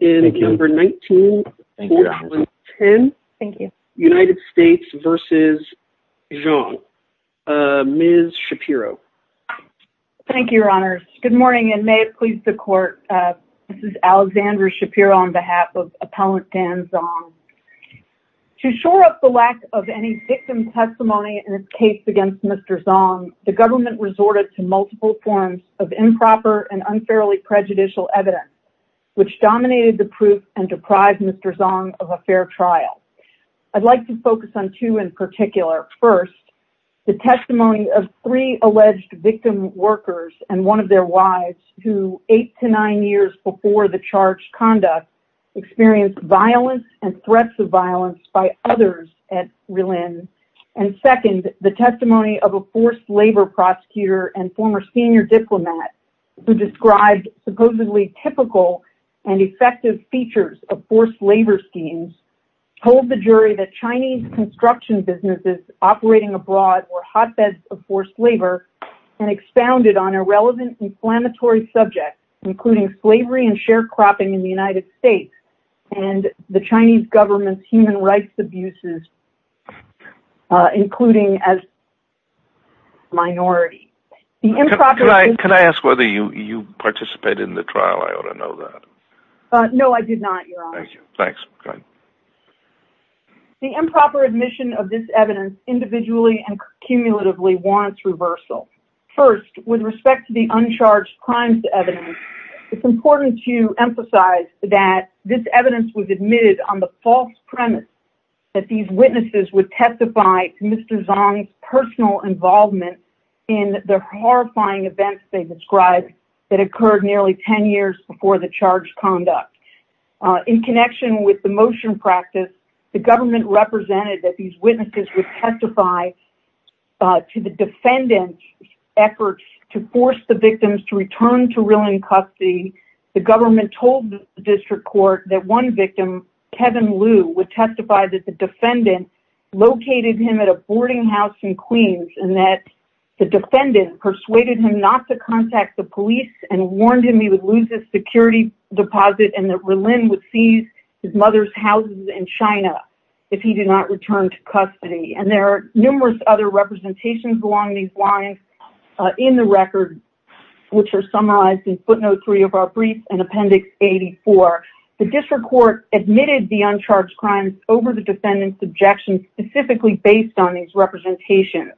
in number 19-10, United States v. Zhong. Ms. Shapiro. Thank you, your honors. Good morning and may it please the court. This is Alexandra Shapiro on behalf of Appellant Dan Zhong. To shore up the lack of any victim testimony in this case against Mr. Zhong, the government resorted to multiple forms of improper and unfairly and deprived Mr. Zhong of a fair trial. I'd like to focus on two in particular. First, the testimony of three alleged victim workers and one of their wives who, eight to nine years before the charged conduct, experienced violence and threats of violence by others at Relin. And second, the testimony of a forced labor prosecutor and former senior diplomat who described supposedly typical and effective features of forced labor schemes told the jury that Chinese construction businesses operating abroad were hotbeds of forced labor and expounded on irrelevant inflammatory subjects, including slavery and sharecropping in the United States and the Chinese government's human rights abuses, including as minority. Can I ask whether you participated in the trial? I ought to know that. No, I did not, your honor. Thank you. Thanks. The improper admission of this evidence individually and cumulatively warrants reversal. First, with respect to the uncharged crimes evidence, it's important to emphasize that this evidence was admitted on the false premise that these witnesses would testify to Mr. Zhong's personal involvement in the horrifying events they described that occurred nearly 10 years before the charged conduct. In connection with the motion practice, the government represented that these witnesses would testify to the defendant's efforts to force the victims to return to Relin custody. The government told the district court that one victim, Kevin Liu, would testify that the defendant located him at a boarding house in Queens and that the defendant persuaded him not to contact the police and warned him he would lose his security deposit and that Relin would seize his mother's houses in China if he did not return to custody. And there are numerous other representations along these lines in the record, which are summarized in footnote three of our brief and appendix 84. The district court admitted the crimes over the defendant's objection specifically based on these representations.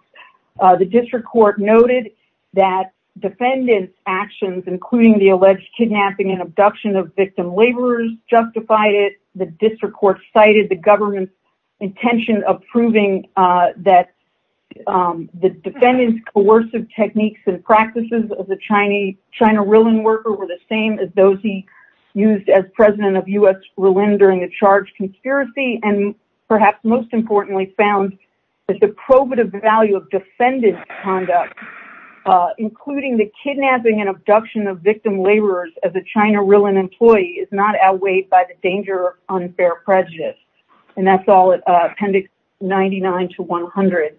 The district court noted that defendant's actions, including the alleged kidnapping and abduction of victim laborers justified it. The district court cited the government's intention of proving that the defendant's coercive techniques and practices of the China Relin worker were the same as those he used as president of U.S. Relin during the charged conspiracy and perhaps most importantly found that the probative value of defendant's conduct, including the kidnapping and abduction of victim laborers as a China Relin employee is not outweighed by the danger of unfair prejudice. And that's all at appendix 99 to 100.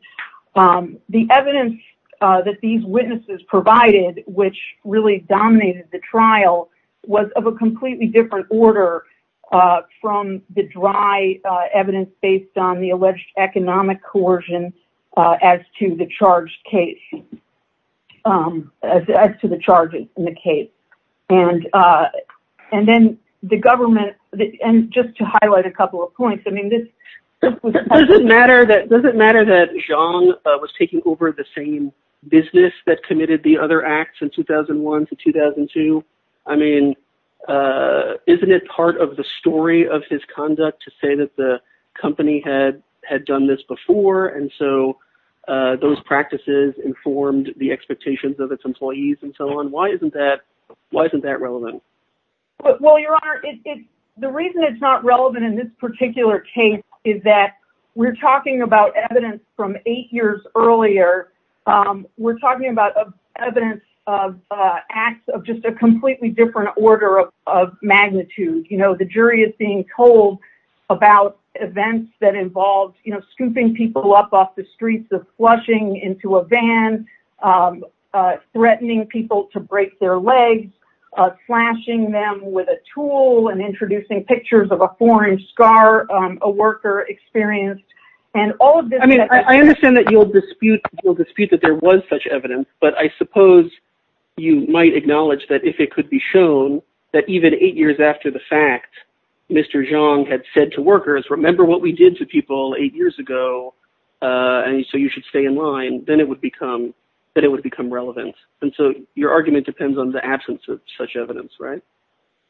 The evidence that these witnesses provided, which really dominated the trial, was of a dry evidence based on the alleged economic coercion as to the charge in the case. And then the government, and just to highlight a couple of points, I mean, does it matter that Zhang was taking over the same business that committed the other ones in 2002? I mean, isn't it part of the story of his conduct to say that the company had done this before and so those practices informed the expectations of its employees and so on? Why isn't that relevant? Well, your honor, the reason it's not relevant in this particular case is that we're talking about evidence from eight years earlier. We're talking about evidence of acts of just a completely different order of magnitude. You know, the jury is being told about events that involved, you know, scooping people up off the streets of flushing into a van, threatening people to break their legs, slashing them with a tool and introducing pictures of a foreign scar a worker experienced and all of this. I mean, I understand that you'll dispute that there was such evidence, but I suppose you might acknowledge that if it could be shown that even eight years after the fact, Mr. Zhang had said to workers, remember what we did to people eight years ago and so you should stay in line, then it would become relevant. And so your argument depends on the absence of such evidence, right?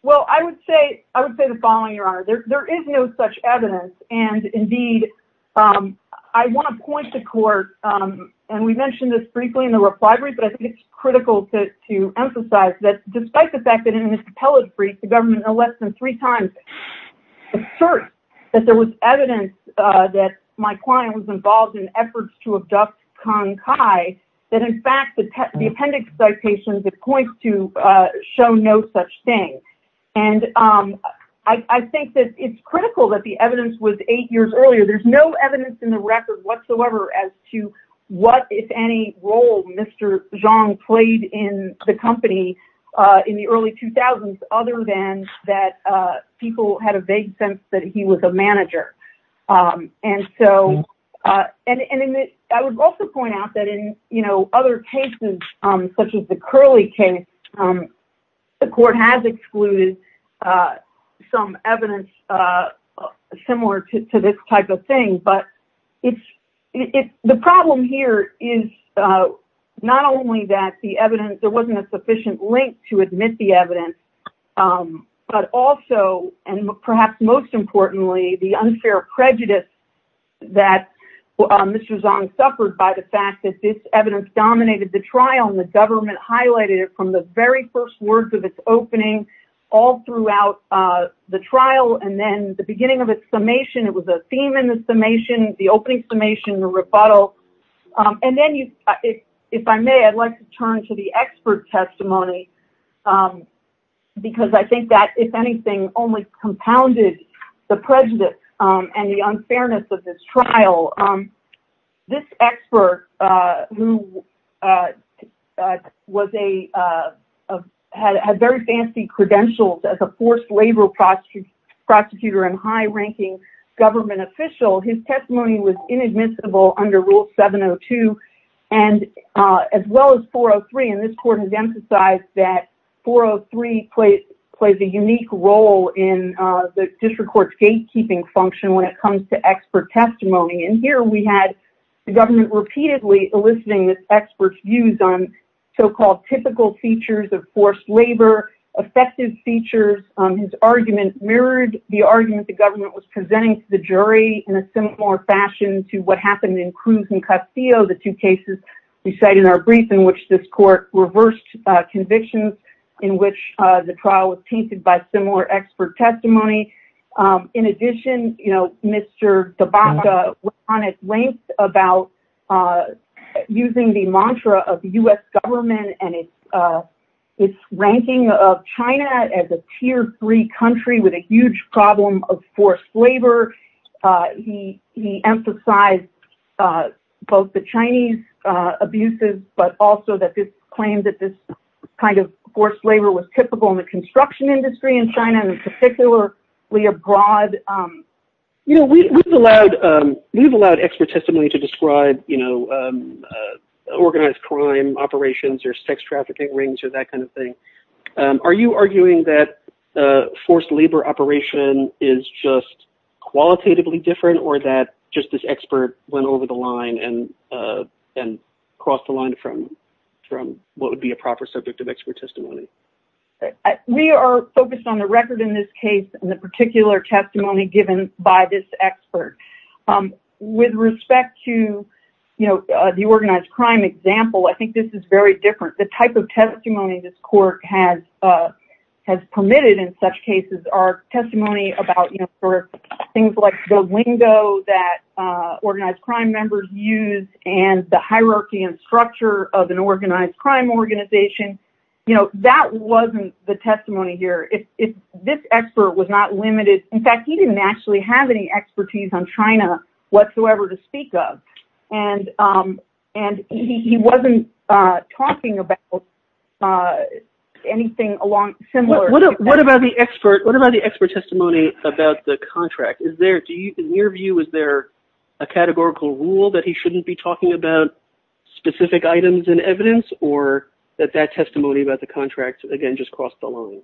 Well, I would say the following, your honor, there is no such evidence and indeed I want to point to court, and we mentioned this briefly in the reply brief, but I think it's critical to emphasize that despite the fact that in this appellate brief the government no less than three times asserts that there was evidence that my client was involved in efforts to abduct Kang Kai, that in fact the appendix citations it points to show no such thing. And I think that it's critical that the evidence was eight years earlier. There's no evidence in the record whatsoever as to what if any role Mr. Zhang played in the company in the early 2000s other than that people had a vague sense that he was a the Curley case. The court has excluded some evidence similar to this type of thing, but the problem here is not only that the evidence, there wasn't a sufficient link to admit the evidence, but also and perhaps most importantly the unfair prejudice that Mr. Zhang suffered by the fact that this evidence dominated the trial and the government highlighted it from the very first words of its opening all throughout the trial and then the beginning of its summation, it was a theme in the summation, the opening summation, the rebuttal, and then if I may, I'd like to turn to the expert testimony because I think that if anything only compounded the who had very fancy credentials as a forced labor prosecutor and high-ranking government official, his testimony was inadmissible under Rule 702 and as well as 403 and this court has emphasized that 403 plays a unique role in the district court's gatekeeping function when it comes to expert eliciting this expert's views on so-called typical features of forced labor, effective features, his argument mirrored the argument the government was presenting to the jury in a similar fashion to what happened in Cruz and Castillo, the two cases we cite in our brief in which this court reversed convictions in which the trial was tainted by similar expert testimony. In addition, Mr. DeBaca went on at length about using the mantra of the U.S. government and its ranking of China as a tier three country with a huge problem of forced labor. He emphasized both the Chinese abuses but also that this claim that this kind of forced labor was typical in the U.S. We've allowed expert testimony to describe organized crime operations or sex trafficking rings or that kind of thing. Are you arguing that forced labor operation is just qualitatively different or that just this expert went over the line and crossed the line from what would be a proper subject of expert testimony? We are focused on the record in this case and the particular testimony given by this expert. With respect to the organized crime example, I think this is very different. The type of testimony this court has permitted in such cases are testimony about things like the lingo that organized crime members use and the hierarchy and structure of an organized crime organization. That wasn't the testimony here. This expert was not limited. In fact, he didn't actually have any expertise on China whatsoever to speak of. He wasn't talking about anything similar. What about the expert testimony about the contract? In your view, is there a categorical rule that he shouldn't be talking about specific items in evidence or that that testimony about the contract just crossed the line?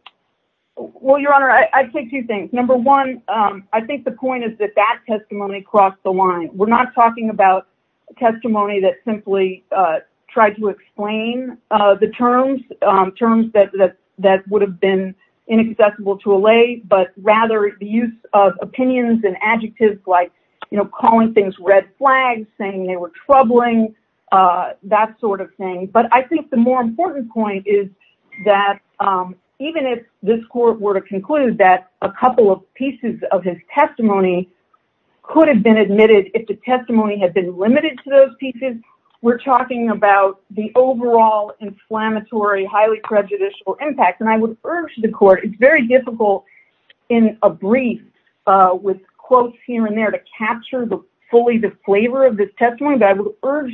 Your Honor, I take two things. Number one, I think the point is that that testimony crossed the line. We're not talking about testimony that simply tried to explain the terms, terms that would have been inaccessible to allay, but rather the use of opinions and adjectives like calling things red flags, saying they were troubling, that sort of thing. I think the more important point is that even if this court were to conclude that a couple of pieces of his testimony could have been admitted if the testimony had been limited to those pieces, we're talking about the overall inflammatory, highly prejudicial impact. I would urge the court, it's very difficult in a brief with fully the flavor of this testimony, but I would urge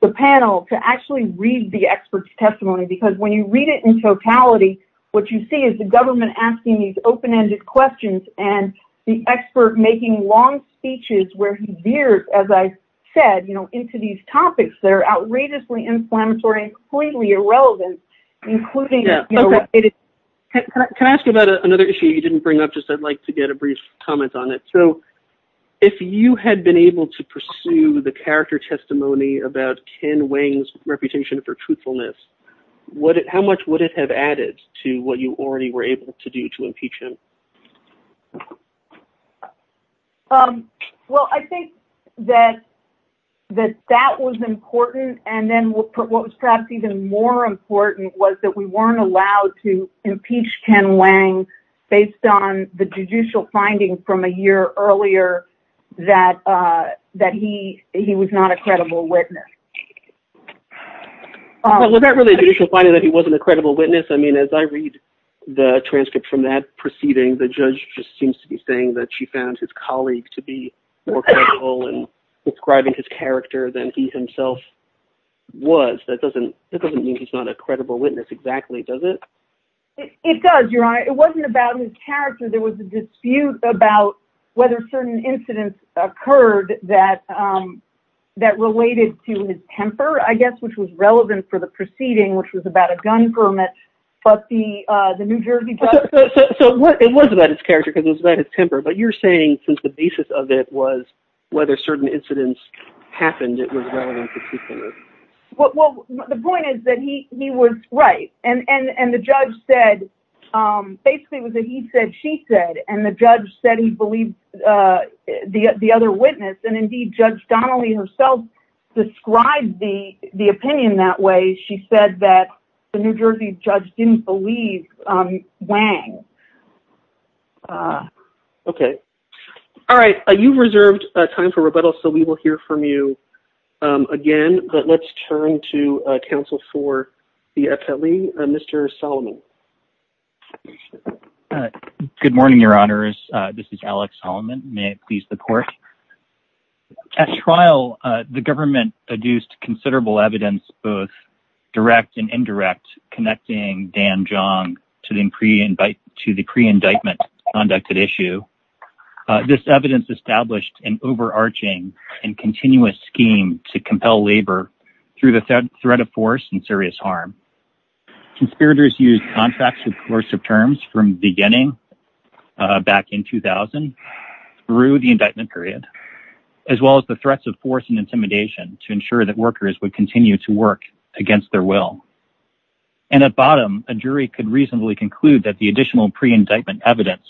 the panel to actually read the expert's testimony because when you read it in totality, what you see is the government asking these open-ended questions and the expert making long speeches where he veered, as I said, into these topics that are outrageously inflammatory and completely irrelevant. Can I ask you about another issue you didn't bring up? I'd like to get a brief comment on it. If you had been able to pursue the character testimony about Ken Wang's reputation for truthfulness, how much would it have added to what you already were able to do to impeach him? Well, I think that that was important and then what was perhaps even more important was that we earlier that he was not a credible witness. Well, was that really a judicial finding that he wasn't a credible witness? I mean, as I read the transcript from that proceeding, the judge just seems to be saying that she found his colleague to be more credible in describing his character than he himself was. That doesn't mean he's not a credible witness exactly, does it? It does, Your Honor. It wasn't about his character. There was a dispute about whether certain incidents occurred that related to his temper, I guess, which was relevant for the proceeding, which was about a gun permit, but the New Jersey judge... So it was about his character because it was about his temper, but you're saying since the basis of it was whether certain incidents happened, it was relevant to truthfulness. Well, the point is that he was right. And the judge said... Basically, it was a he said, she said, and the judge said he believed the other witness. And indeed, Judge Donnelly herself described the opinion that way. She said that the New Jersey judge didn't believe Wang. Okay. All right. You've reserved time for rebuttal, so we will hear from you again, but let's turn to counsel for the appellee, Mr. Solomon. Good morning, Your Honors. This is Alex Solomon. May it please the court. At trial, the government produced considerable evidence, both direct and indirect, connecting Dan Jeong to the pre-indictment conducted issue. This evidence established an overarching and continuous scheme to compel labor through the threat of force and serious harm. Conspirators used contractual coercive terms from the beginning back in 2000 through the indictment period, as well as the threats of force and intimidation to ensure that workers would to work against their will. And at bottom, a jury could reasonably conclude that the additional pre-indictment evidence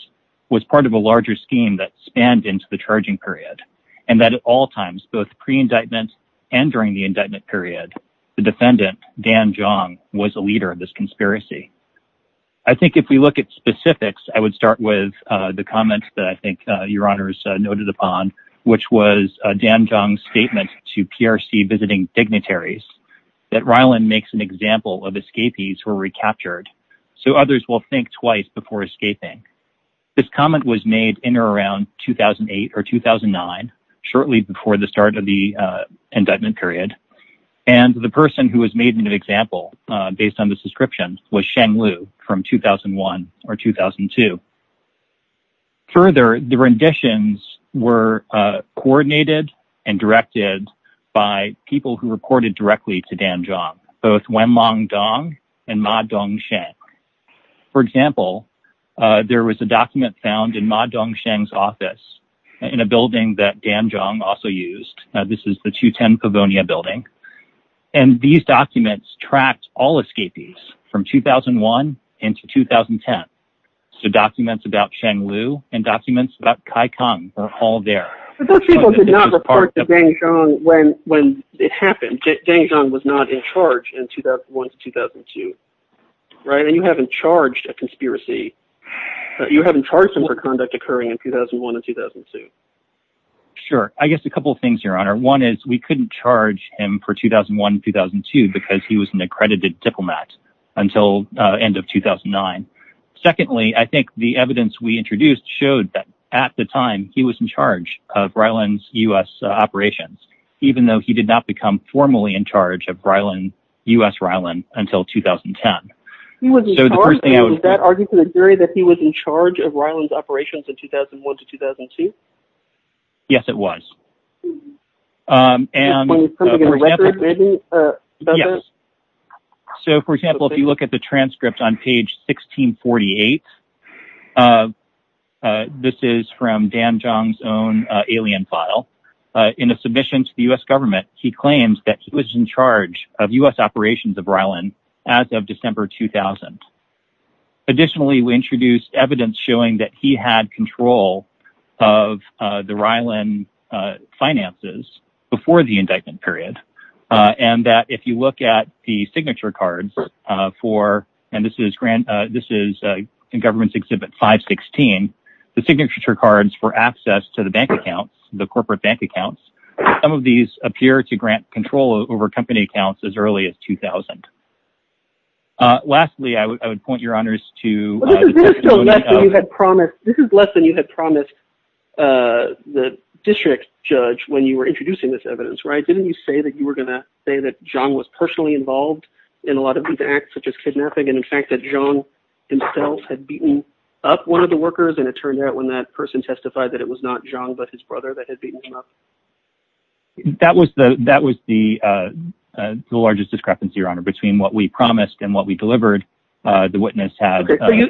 was part of a larger scheme that spanned into the charging period, and that at all times, both pre-indictment and during the indictment period, the defendant, Dan Jeong, was a leader of this conspiracy. I think if we look at specifics, I would start with the comment that I think Your Honors noted upon, which was Dan Jeong's statement to PRC visiting dignitaries, that Ryland makes an example of escapees who were recaptured, so others will think twice before escaping. This comment was made in or around 2008 or 2009, shortly before the start of the indictment period, and the person who was made an example based on this description was in 2001 or 2002. Further, the renditions were coordinated and directed by people who reported directly to Dan Jeong, both Wenlong Dong and Ma Dongsheng. For example, there was a document found in Ma Dongsheng's office in a building that Dan Jeong also used. This is the 210 Pavonia building, and these documents tracked all escapees from 2001 into 2010. So documents about Sheng Liu and documents about Kai Kang are all there. But those people did not report to Dan Jeong when it happened. Dan Jeong was not in charge in 2001 to 2002, right? And you haven't charged a conspiracy. You haven't charged him for conduct occurring in 2001 and 2002. Sure. I guess a couple things, Your Honor. One is we couldn't charge him for 2001 and 2002 because he was an accredited diplomat until the end of 2009. Secondly, I think the evidence we introduced showed that at the time he was in charge of Ryland's U.S. operations, even though he did not become formally in charge of U.S. Ryland until 2010. He was in charge, and was that arguing to the jury that he was in charge of Ryland? Yes. So, for example, if you look at the transcript on page 1648, this is from Dan Jeong's own alien file. In a submission to the U.S. government, he claims that he was in charge of U.S. operations of Ryland as of December 2000. Additionally, we introduced evidence showing that he had control of the Ryland finances before the indictment period, and that if you look at the signature cards for, and this is in Government's Exhibit 516, the signature cards for access to the bank accounts, the corporate bank accounts, some of these appear to grant control over company accounts as early as 2000. Lastly, I would point your honors to... This is less than you had promised the district judge when you were introducing this evidence, right? Didn't you say that you were going to say that Jeong was personally involved in a lot of these acts such as kidnapping, and in fact, that Jeong himself had beaten up one of the workers, and it turned out when that person testified that it was not Jeong, but his brother that had beaten him up? That was the largest discrepancy, your honor, between what we promised and what we delivered. The witness had...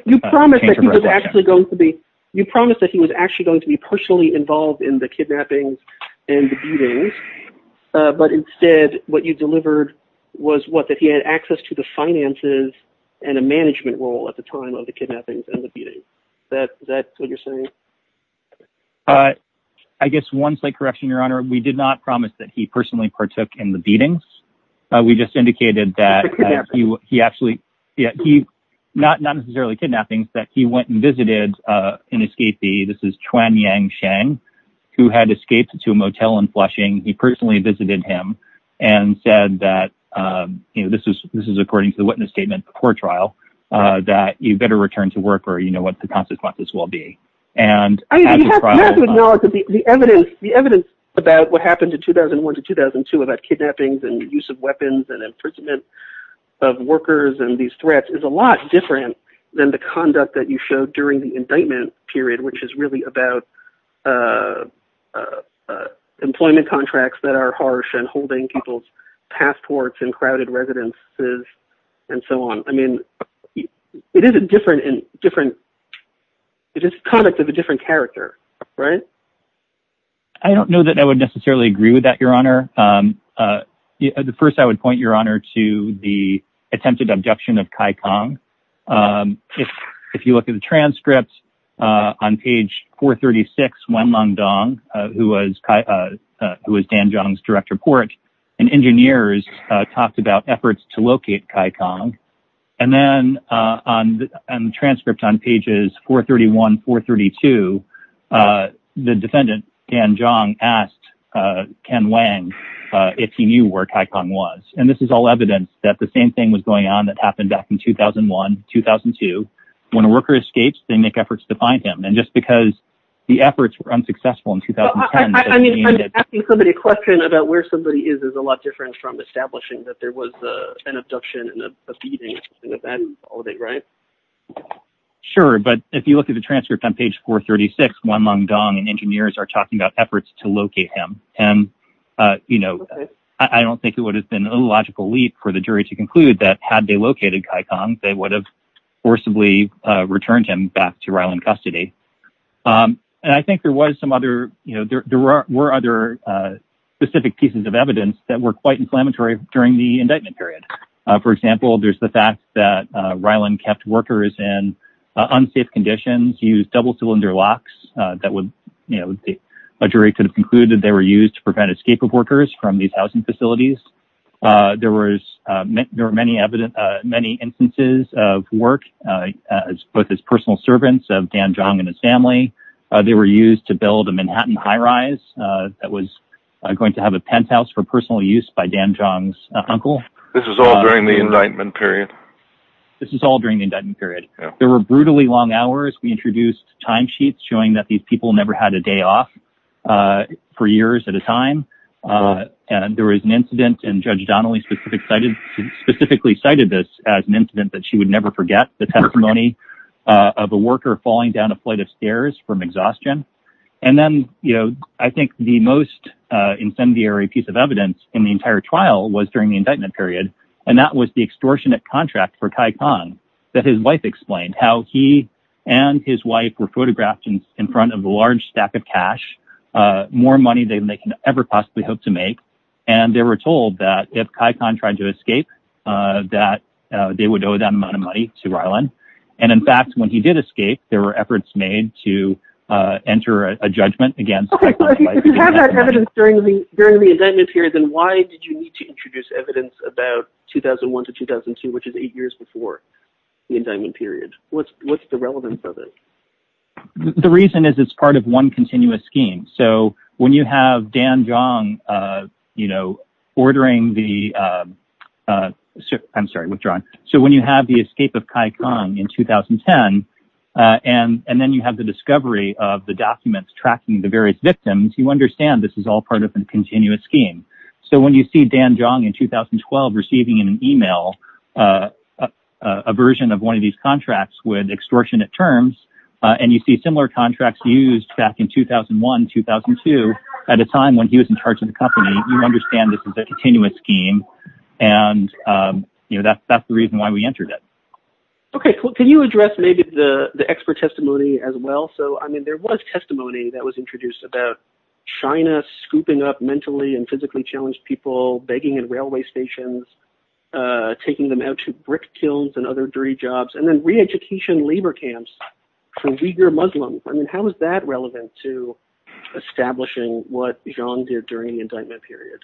You promised that he was actually going to be... You promised that he was actually going to be personally involved in the kidnappings and the beatings, but instead, what you delivered was what? That he had access to the finances and a management role at the time of the kidnappings and the beatings. Is that what you're saying? I guess one slight correction, your honor. We did not promise that he personally partook in the beatings. We just indicated that he actually... Not necessarily kidnappings, that he went and visited an escapee. This is Chuan Yang Sheng, who had escaped to a motel in Flushing. He personally visited him and said that... This is according to the witness statement before trial, that you better return to work or you have to acknowledge that the evidence about what happened in 2001 to 2002 about kidnappings and use of weapons and imprisonment of workers and these threats is a lot different than the conduct that you showed during the indictment period, which is really about employment contracts that are harsh and holding people's passports in crowded residences and so on. I mean, it is a different... It is conduct of a different character, right? I don't know that I would necessarily agree with that, your honor. At first, I would point your honor to the attempted abduction of Kai Kang. If you look at the transcripts on page 436, Wen Long Dong, who was Dan Zhang's direct report and engineers talked about efforts to locate Kai Kang and then on the transcript on pages 431, 432, the defendant, Dan Zhang, asked Ken Wang if he knew where Kai Kang was and this is all evidence that the same thing was going on that happened back in 2001, 2002. When a worker escapes, they make efforts to find him and just because the efforts were unsuccessful in 2010... I mean, asking somebody about where somebody is, is a lot different from establishing that there was an abduction and a beating, right? Sure, but if you look at the transcript on page 436, Wen Long Dong and engineers are talking about efforts to locate him and I don't think it would have been a logical leap for the jury to conclude that had they located Kai Kang, they would have forcibly returned him to Ryland custody. I think there were other specific pieces of evidence that were quite inflammatory during the indictment period. For example, there's the fact that Ryland kept workers in unsafe conditions, used double cylinder locks that the jury could have concluded they were used to prevent escape of workers from these housing facilities. There were many instances of work, both as personal servants of Dan Zhang and his family. They were used to build a Manhattan high rise that was going to have a penthouse for personal use by Dan Zhang's uncle. This was all during the indictment period? This is all during the indictment period. There were brutally long hours. We introduced time sheets showing that these people never had a day off for years at a time and there was an incident and Judge Donnelly specifically cited this as an example of a worker falling down a flight of stairs from exhaustion. I think the most incendiary piece of evidence in the entire trial was during the indictment period and that was the extortionate contract for Kai Kang that his wife explained how he and his wife were photographed in front of a large stack of cash, more money than they could ever possibly hope to make. They were told that if Kai Kang tried to escape that they would owe that amount to Ryland. In fact, when he did escape, there were efforts made to enter a judgment against Kai Kang. If you have that evidence during the indictment period, then why did you need to introduce evidence about 2001 to 2002, which is eight years before the indictment period? What's the relevance of it? The reason is it's part of one continuous scheme. When you have the escape of Kai Kang in 2010 and then you have the discovery of the documents tracking the various victims, you understand this is all part of a continuous scheme. So when you see Dan Jeong in 2012 receiving an email, a version of one of these contracts with 2002 at a time when he was in charge of the company, you understand this is a continuous scheme and that's the reason why we entered it. Can you address the expert testimony as well? There was testimony that was introduced about China scooping up mentally and physically challenged people, begging in railway stations, taking them out to brick kilns and other dirty establishing what Jeong did during the indictment period.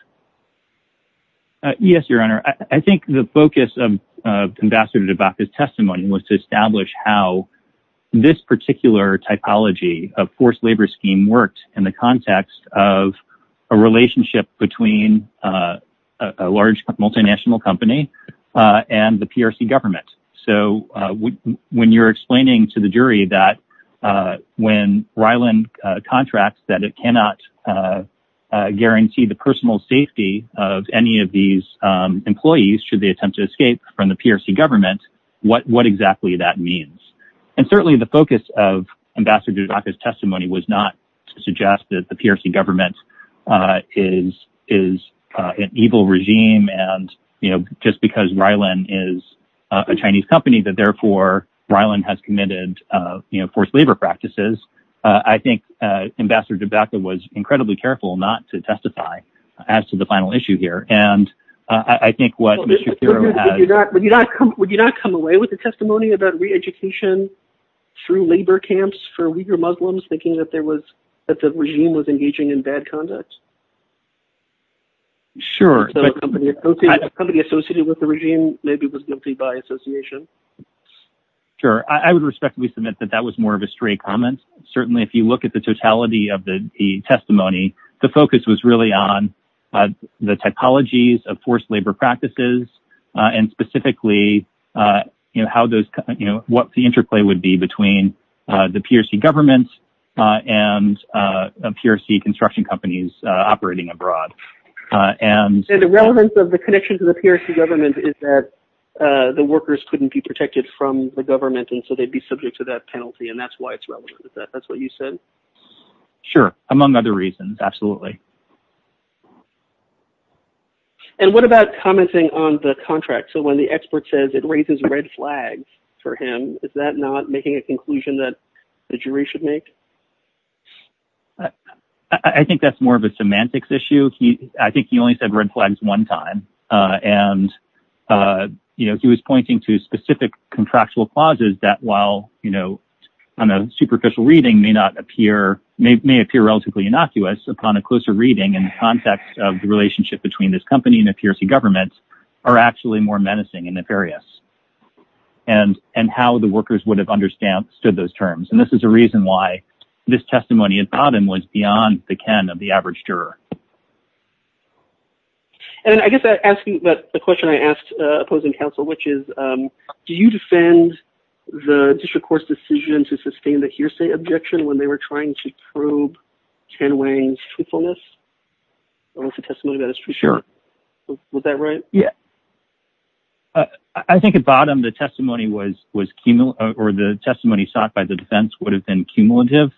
Yes, Your Honor. I think the focus of Ambassador DeVos' testimony was to establish how this particular typology of forced labor scheme worked in the context of a relationship between a large multinational company and the PRC government. So when you're explaining to the contract that it cannot guarantee the personal safety of any of these employees should they attempt to escape from the PRC government, what exactly that means? Certainly, the focus of Ambassador DeVos' testimony was not to suggest that the PRC government is an evil regime and just because Rylan is a Chinese company that therefore Rylan has committed forced labor practices. I think Ambassador DeVos was incredibly careful not to testify as to the final issue here. Would you not come away with a testimony about re-education through labor camps for Uighur Muslims thinking that the regime was engaging in bad conduct? Sure, I would respectfully submit that that was more of a comment. Certainly, if you look at the totality of the testimony, the focus was really on the typologies of forced labor practices and specifically what the interplay would be between the PRC government and PRC construction companies operating abroad. The relevance of the connection to the PRC government is that the workers couldn't be protected from the government and so they'd be subject to that penalty and that's why it's relevant. Is that what you said? Sure, among other reasons, absolutely. And what about commenting on the contract? So when the expert says it raises red flags for him, is that not making a conclusion that the jury should make? I think that's more of a semantics issue. I think he only said red flags one time and he was pointing to specific contractual clauses that while on a superficial reading may appear relatively innocuous upon a closer reading in the context of the relationship between this company and the PRC government are actually more menacing and nefarious and how the workers would have understood those terms. This is a reason why this testimony in Padham was beyond the ken of the average juror. And I guess asking about the question I asked opposing counsel, which is do you defend the district court's decision to sustain the hearsay objection when they were trying to prove Ken Wang's truthfulness? I don't see testimony that is true. Sure. Was that right? Yeah. I think at bottom the testimony was or the testimony sought by the defense would have been cumulative.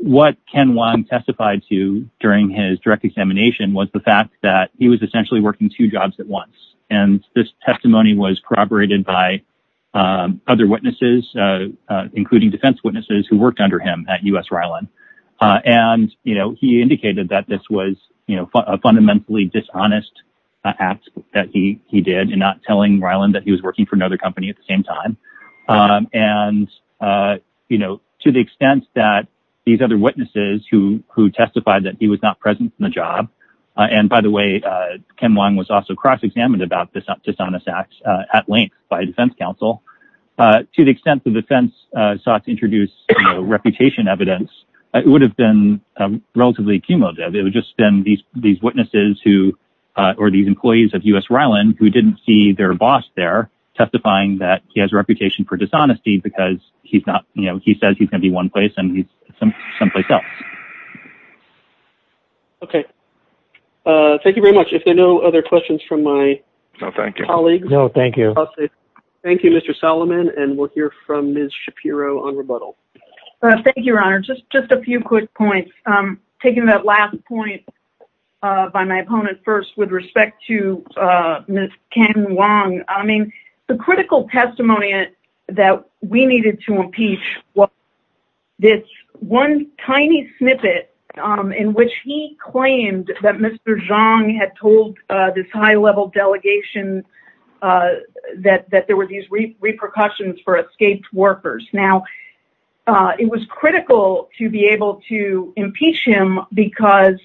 What Ken Wang testified to during his direct examination was the fact that he was essentially working two jobs at once. And this testimony was corroborated by other witnesses, including defense witnesses who worked under him at U.S. Ryland. And he indicated that this was a fundamentally dishonest act that he did and not telling Ryland that he was working for another at the same time. And, you know, to the extent that these other witnesses who who testified that he was not present in the job. And by the way, Ken Wang was also cross-examined about this dishonest act at length by a defense counsel to the extent the defense sought to introduce reputation evidence. It would have been relatively cumulative. It would just spend these these witnesses who or these employees of U.S. Ryland who didn't see their boss there testifying that he has a reputation for dishonesty because he's not you know, he says he can be one place and he's someplace else. Okay. Thank you very much. If there are no other questions from my colleagues. No, thank you. Thank you, Mr. Solomon. And we'll hear from Ms. Shapiro on rebuttal. Thank you, Your Honor. Just just a few quick points. Taking that last point by my opponent first with respect to Ms. Ken Wang. I mean, the critical testimony that we needed to impeach was this one tiny snippet in which he claimed that Mr. Zhang had told this high-level delegation that there were these repercussions for escaped workers. Now, it was critical to be able to impeach him because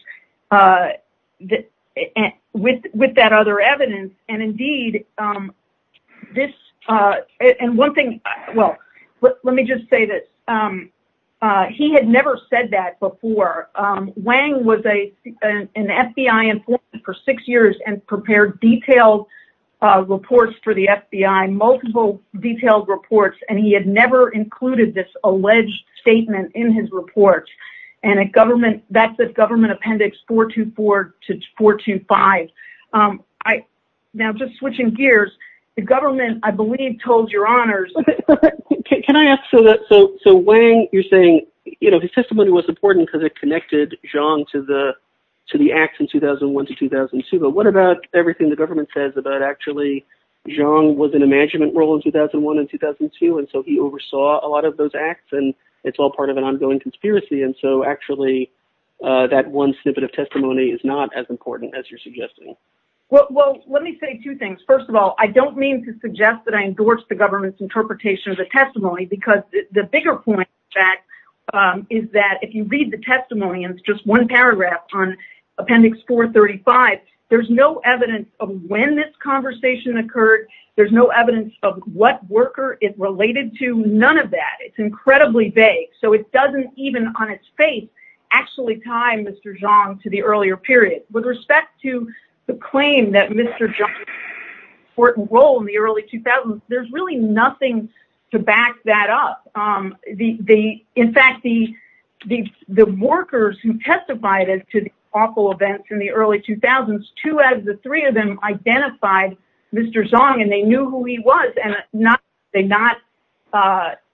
with that other evidence and indeed, this and one thing, well, let me just say that he had never said that before. Wang was a an FBI informant for six years and prepared detailed reports for the FBI, multiple detailed reports, and he had never included this alleged statement in his report. And a government that's a government appendix 424 to 425. I now just switching gears. The government, I believe, told your honors. Can I ask so that so so when you're saying, you know, his testimony was important because it connected Zhang to the to the acts in 2001 to 2002. But what about everything the government says about actually Zhang was in a management role in 2001 and 2002. And so he oversaw a lot of those acts, and it's all part of an ongoing conspiracy. And so actually, that one snippet of testimony is not as important as you're suggesting. Well, let me say two things. First of all, I don't mean to suggest that I endorse the government's interpretation of the testimony, because the bigger point that is that if you read the testimony, and it's just one paragraph on appendix 435, there's no evidence of when this conversation occurred. There's no evidence of what worker is related to none of that. It's incredibly vague. So it doesn't even on its face, actually time Mr. Zhang to the earlier period with respect to the claim that Mr. John important role in the early 2000s, there's really nothing to back that up. The the, in fact, the the the workers who testified to the awful events in the early 2000s, two out of the three of them identified Mr. Zhang, and they knew who he was, and not, they not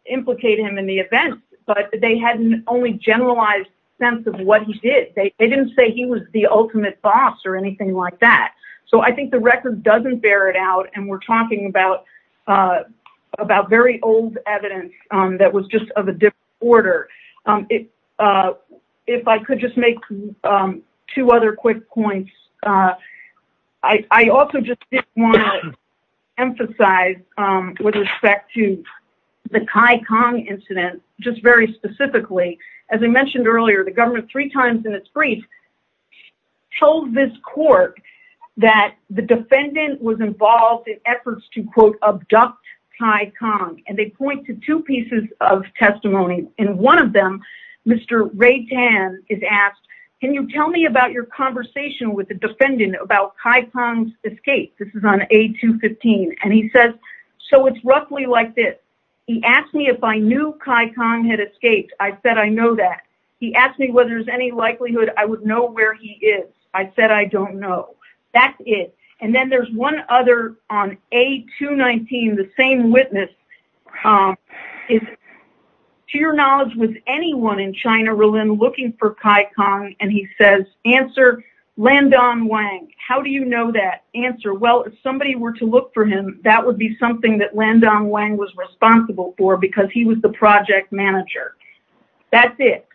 implicate him in the event. But they hadn't only generalized sense of what he did. They didn't say he was the ultimate boss or anything like that. So I think the record doesn't bear it out. And we're talking about, about very old evidence that was just of a different order. If I could just make two other quick points. I also just want to emphasize with respect to the Kai Kang incident, just very court, that the defendant was involved in efforts to quote, abduct Kai Kang, and they point to two pieces of testimony. And one of them, Mr. Ray Tan is asked, Can you tell me about your conversation with the defendant about Kai Kang's escape? This is on a 215. And he says, So it's roughly like this. He asked me if I knew Kai Kang had escaped. I said, I know that he asked me whether there's any likelihood I would know where he is. I said, I don't know. That's it. And then there's one other on a 219. The same witness is, to your knowledge, was anyone in China looking for Kai Kang? And he says, answer Landon Wang. How do you know that answer? Well, if somebody were to look for him, that would be something that Landon Wang was responsible for because he was the project manager. That's it.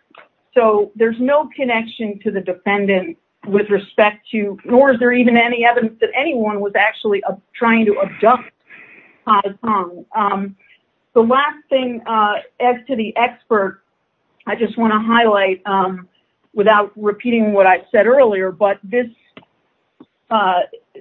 So there's no connection to the defendant with respect to, nor is there even any evidence that anyone was actually trying to abduct Kai Kang. The last thing, as to the expert, I just want to highlight, without repeating what I said earlier, but this,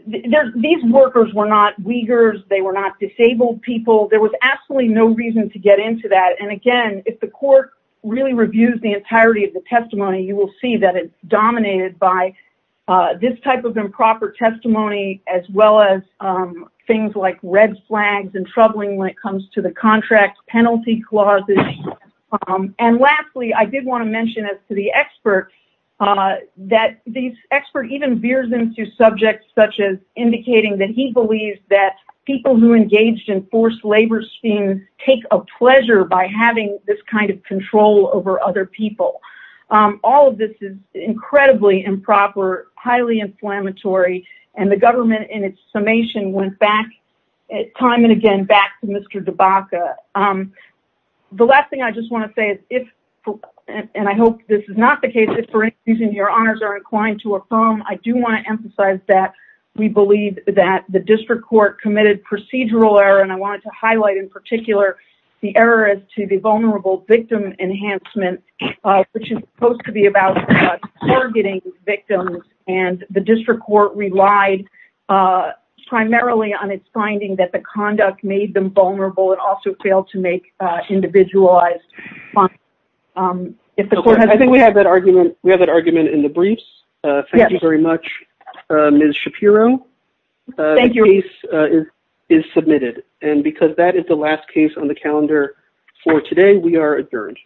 these workers were not Uyghurs. They were not disabled people. There was absolutely no reason to get into that. And again, if the court really reviews the entirety of the testimony, you will see that it's dominated by this type of improper testimony, as well as things like red flags and troubling when it comes to the contract penalty clauses. And lastly, I did want to mention, as to the expert, that the expert even veers into subjects such as indicating that he believes that people who engaged in forced labor schemes take a pleasure by having this kind of control over other people. All of this is incredibly improper, highly inflammatory, and the government in its summation went back, time and again, back to Mr. DeBaca. The last thing I just want to say is if, and I hope this is not the case, if for any reason your honors are inclined to affirm, I do want to emphasize that we believe that the district court committed procedural error, and I wanted to highlight in particular the error as to the vulnerable victim enhancement, which is supposed to be about targeting victims, and the district court relied primarily on its finding that the conduct made them vulnerable and also failed to make individualized fines. I think we have that argument in the briefs. Thank you very much, Ms. Shapiro. The case is submitted, and because that is the last case on the calendar for today, we are adjourned.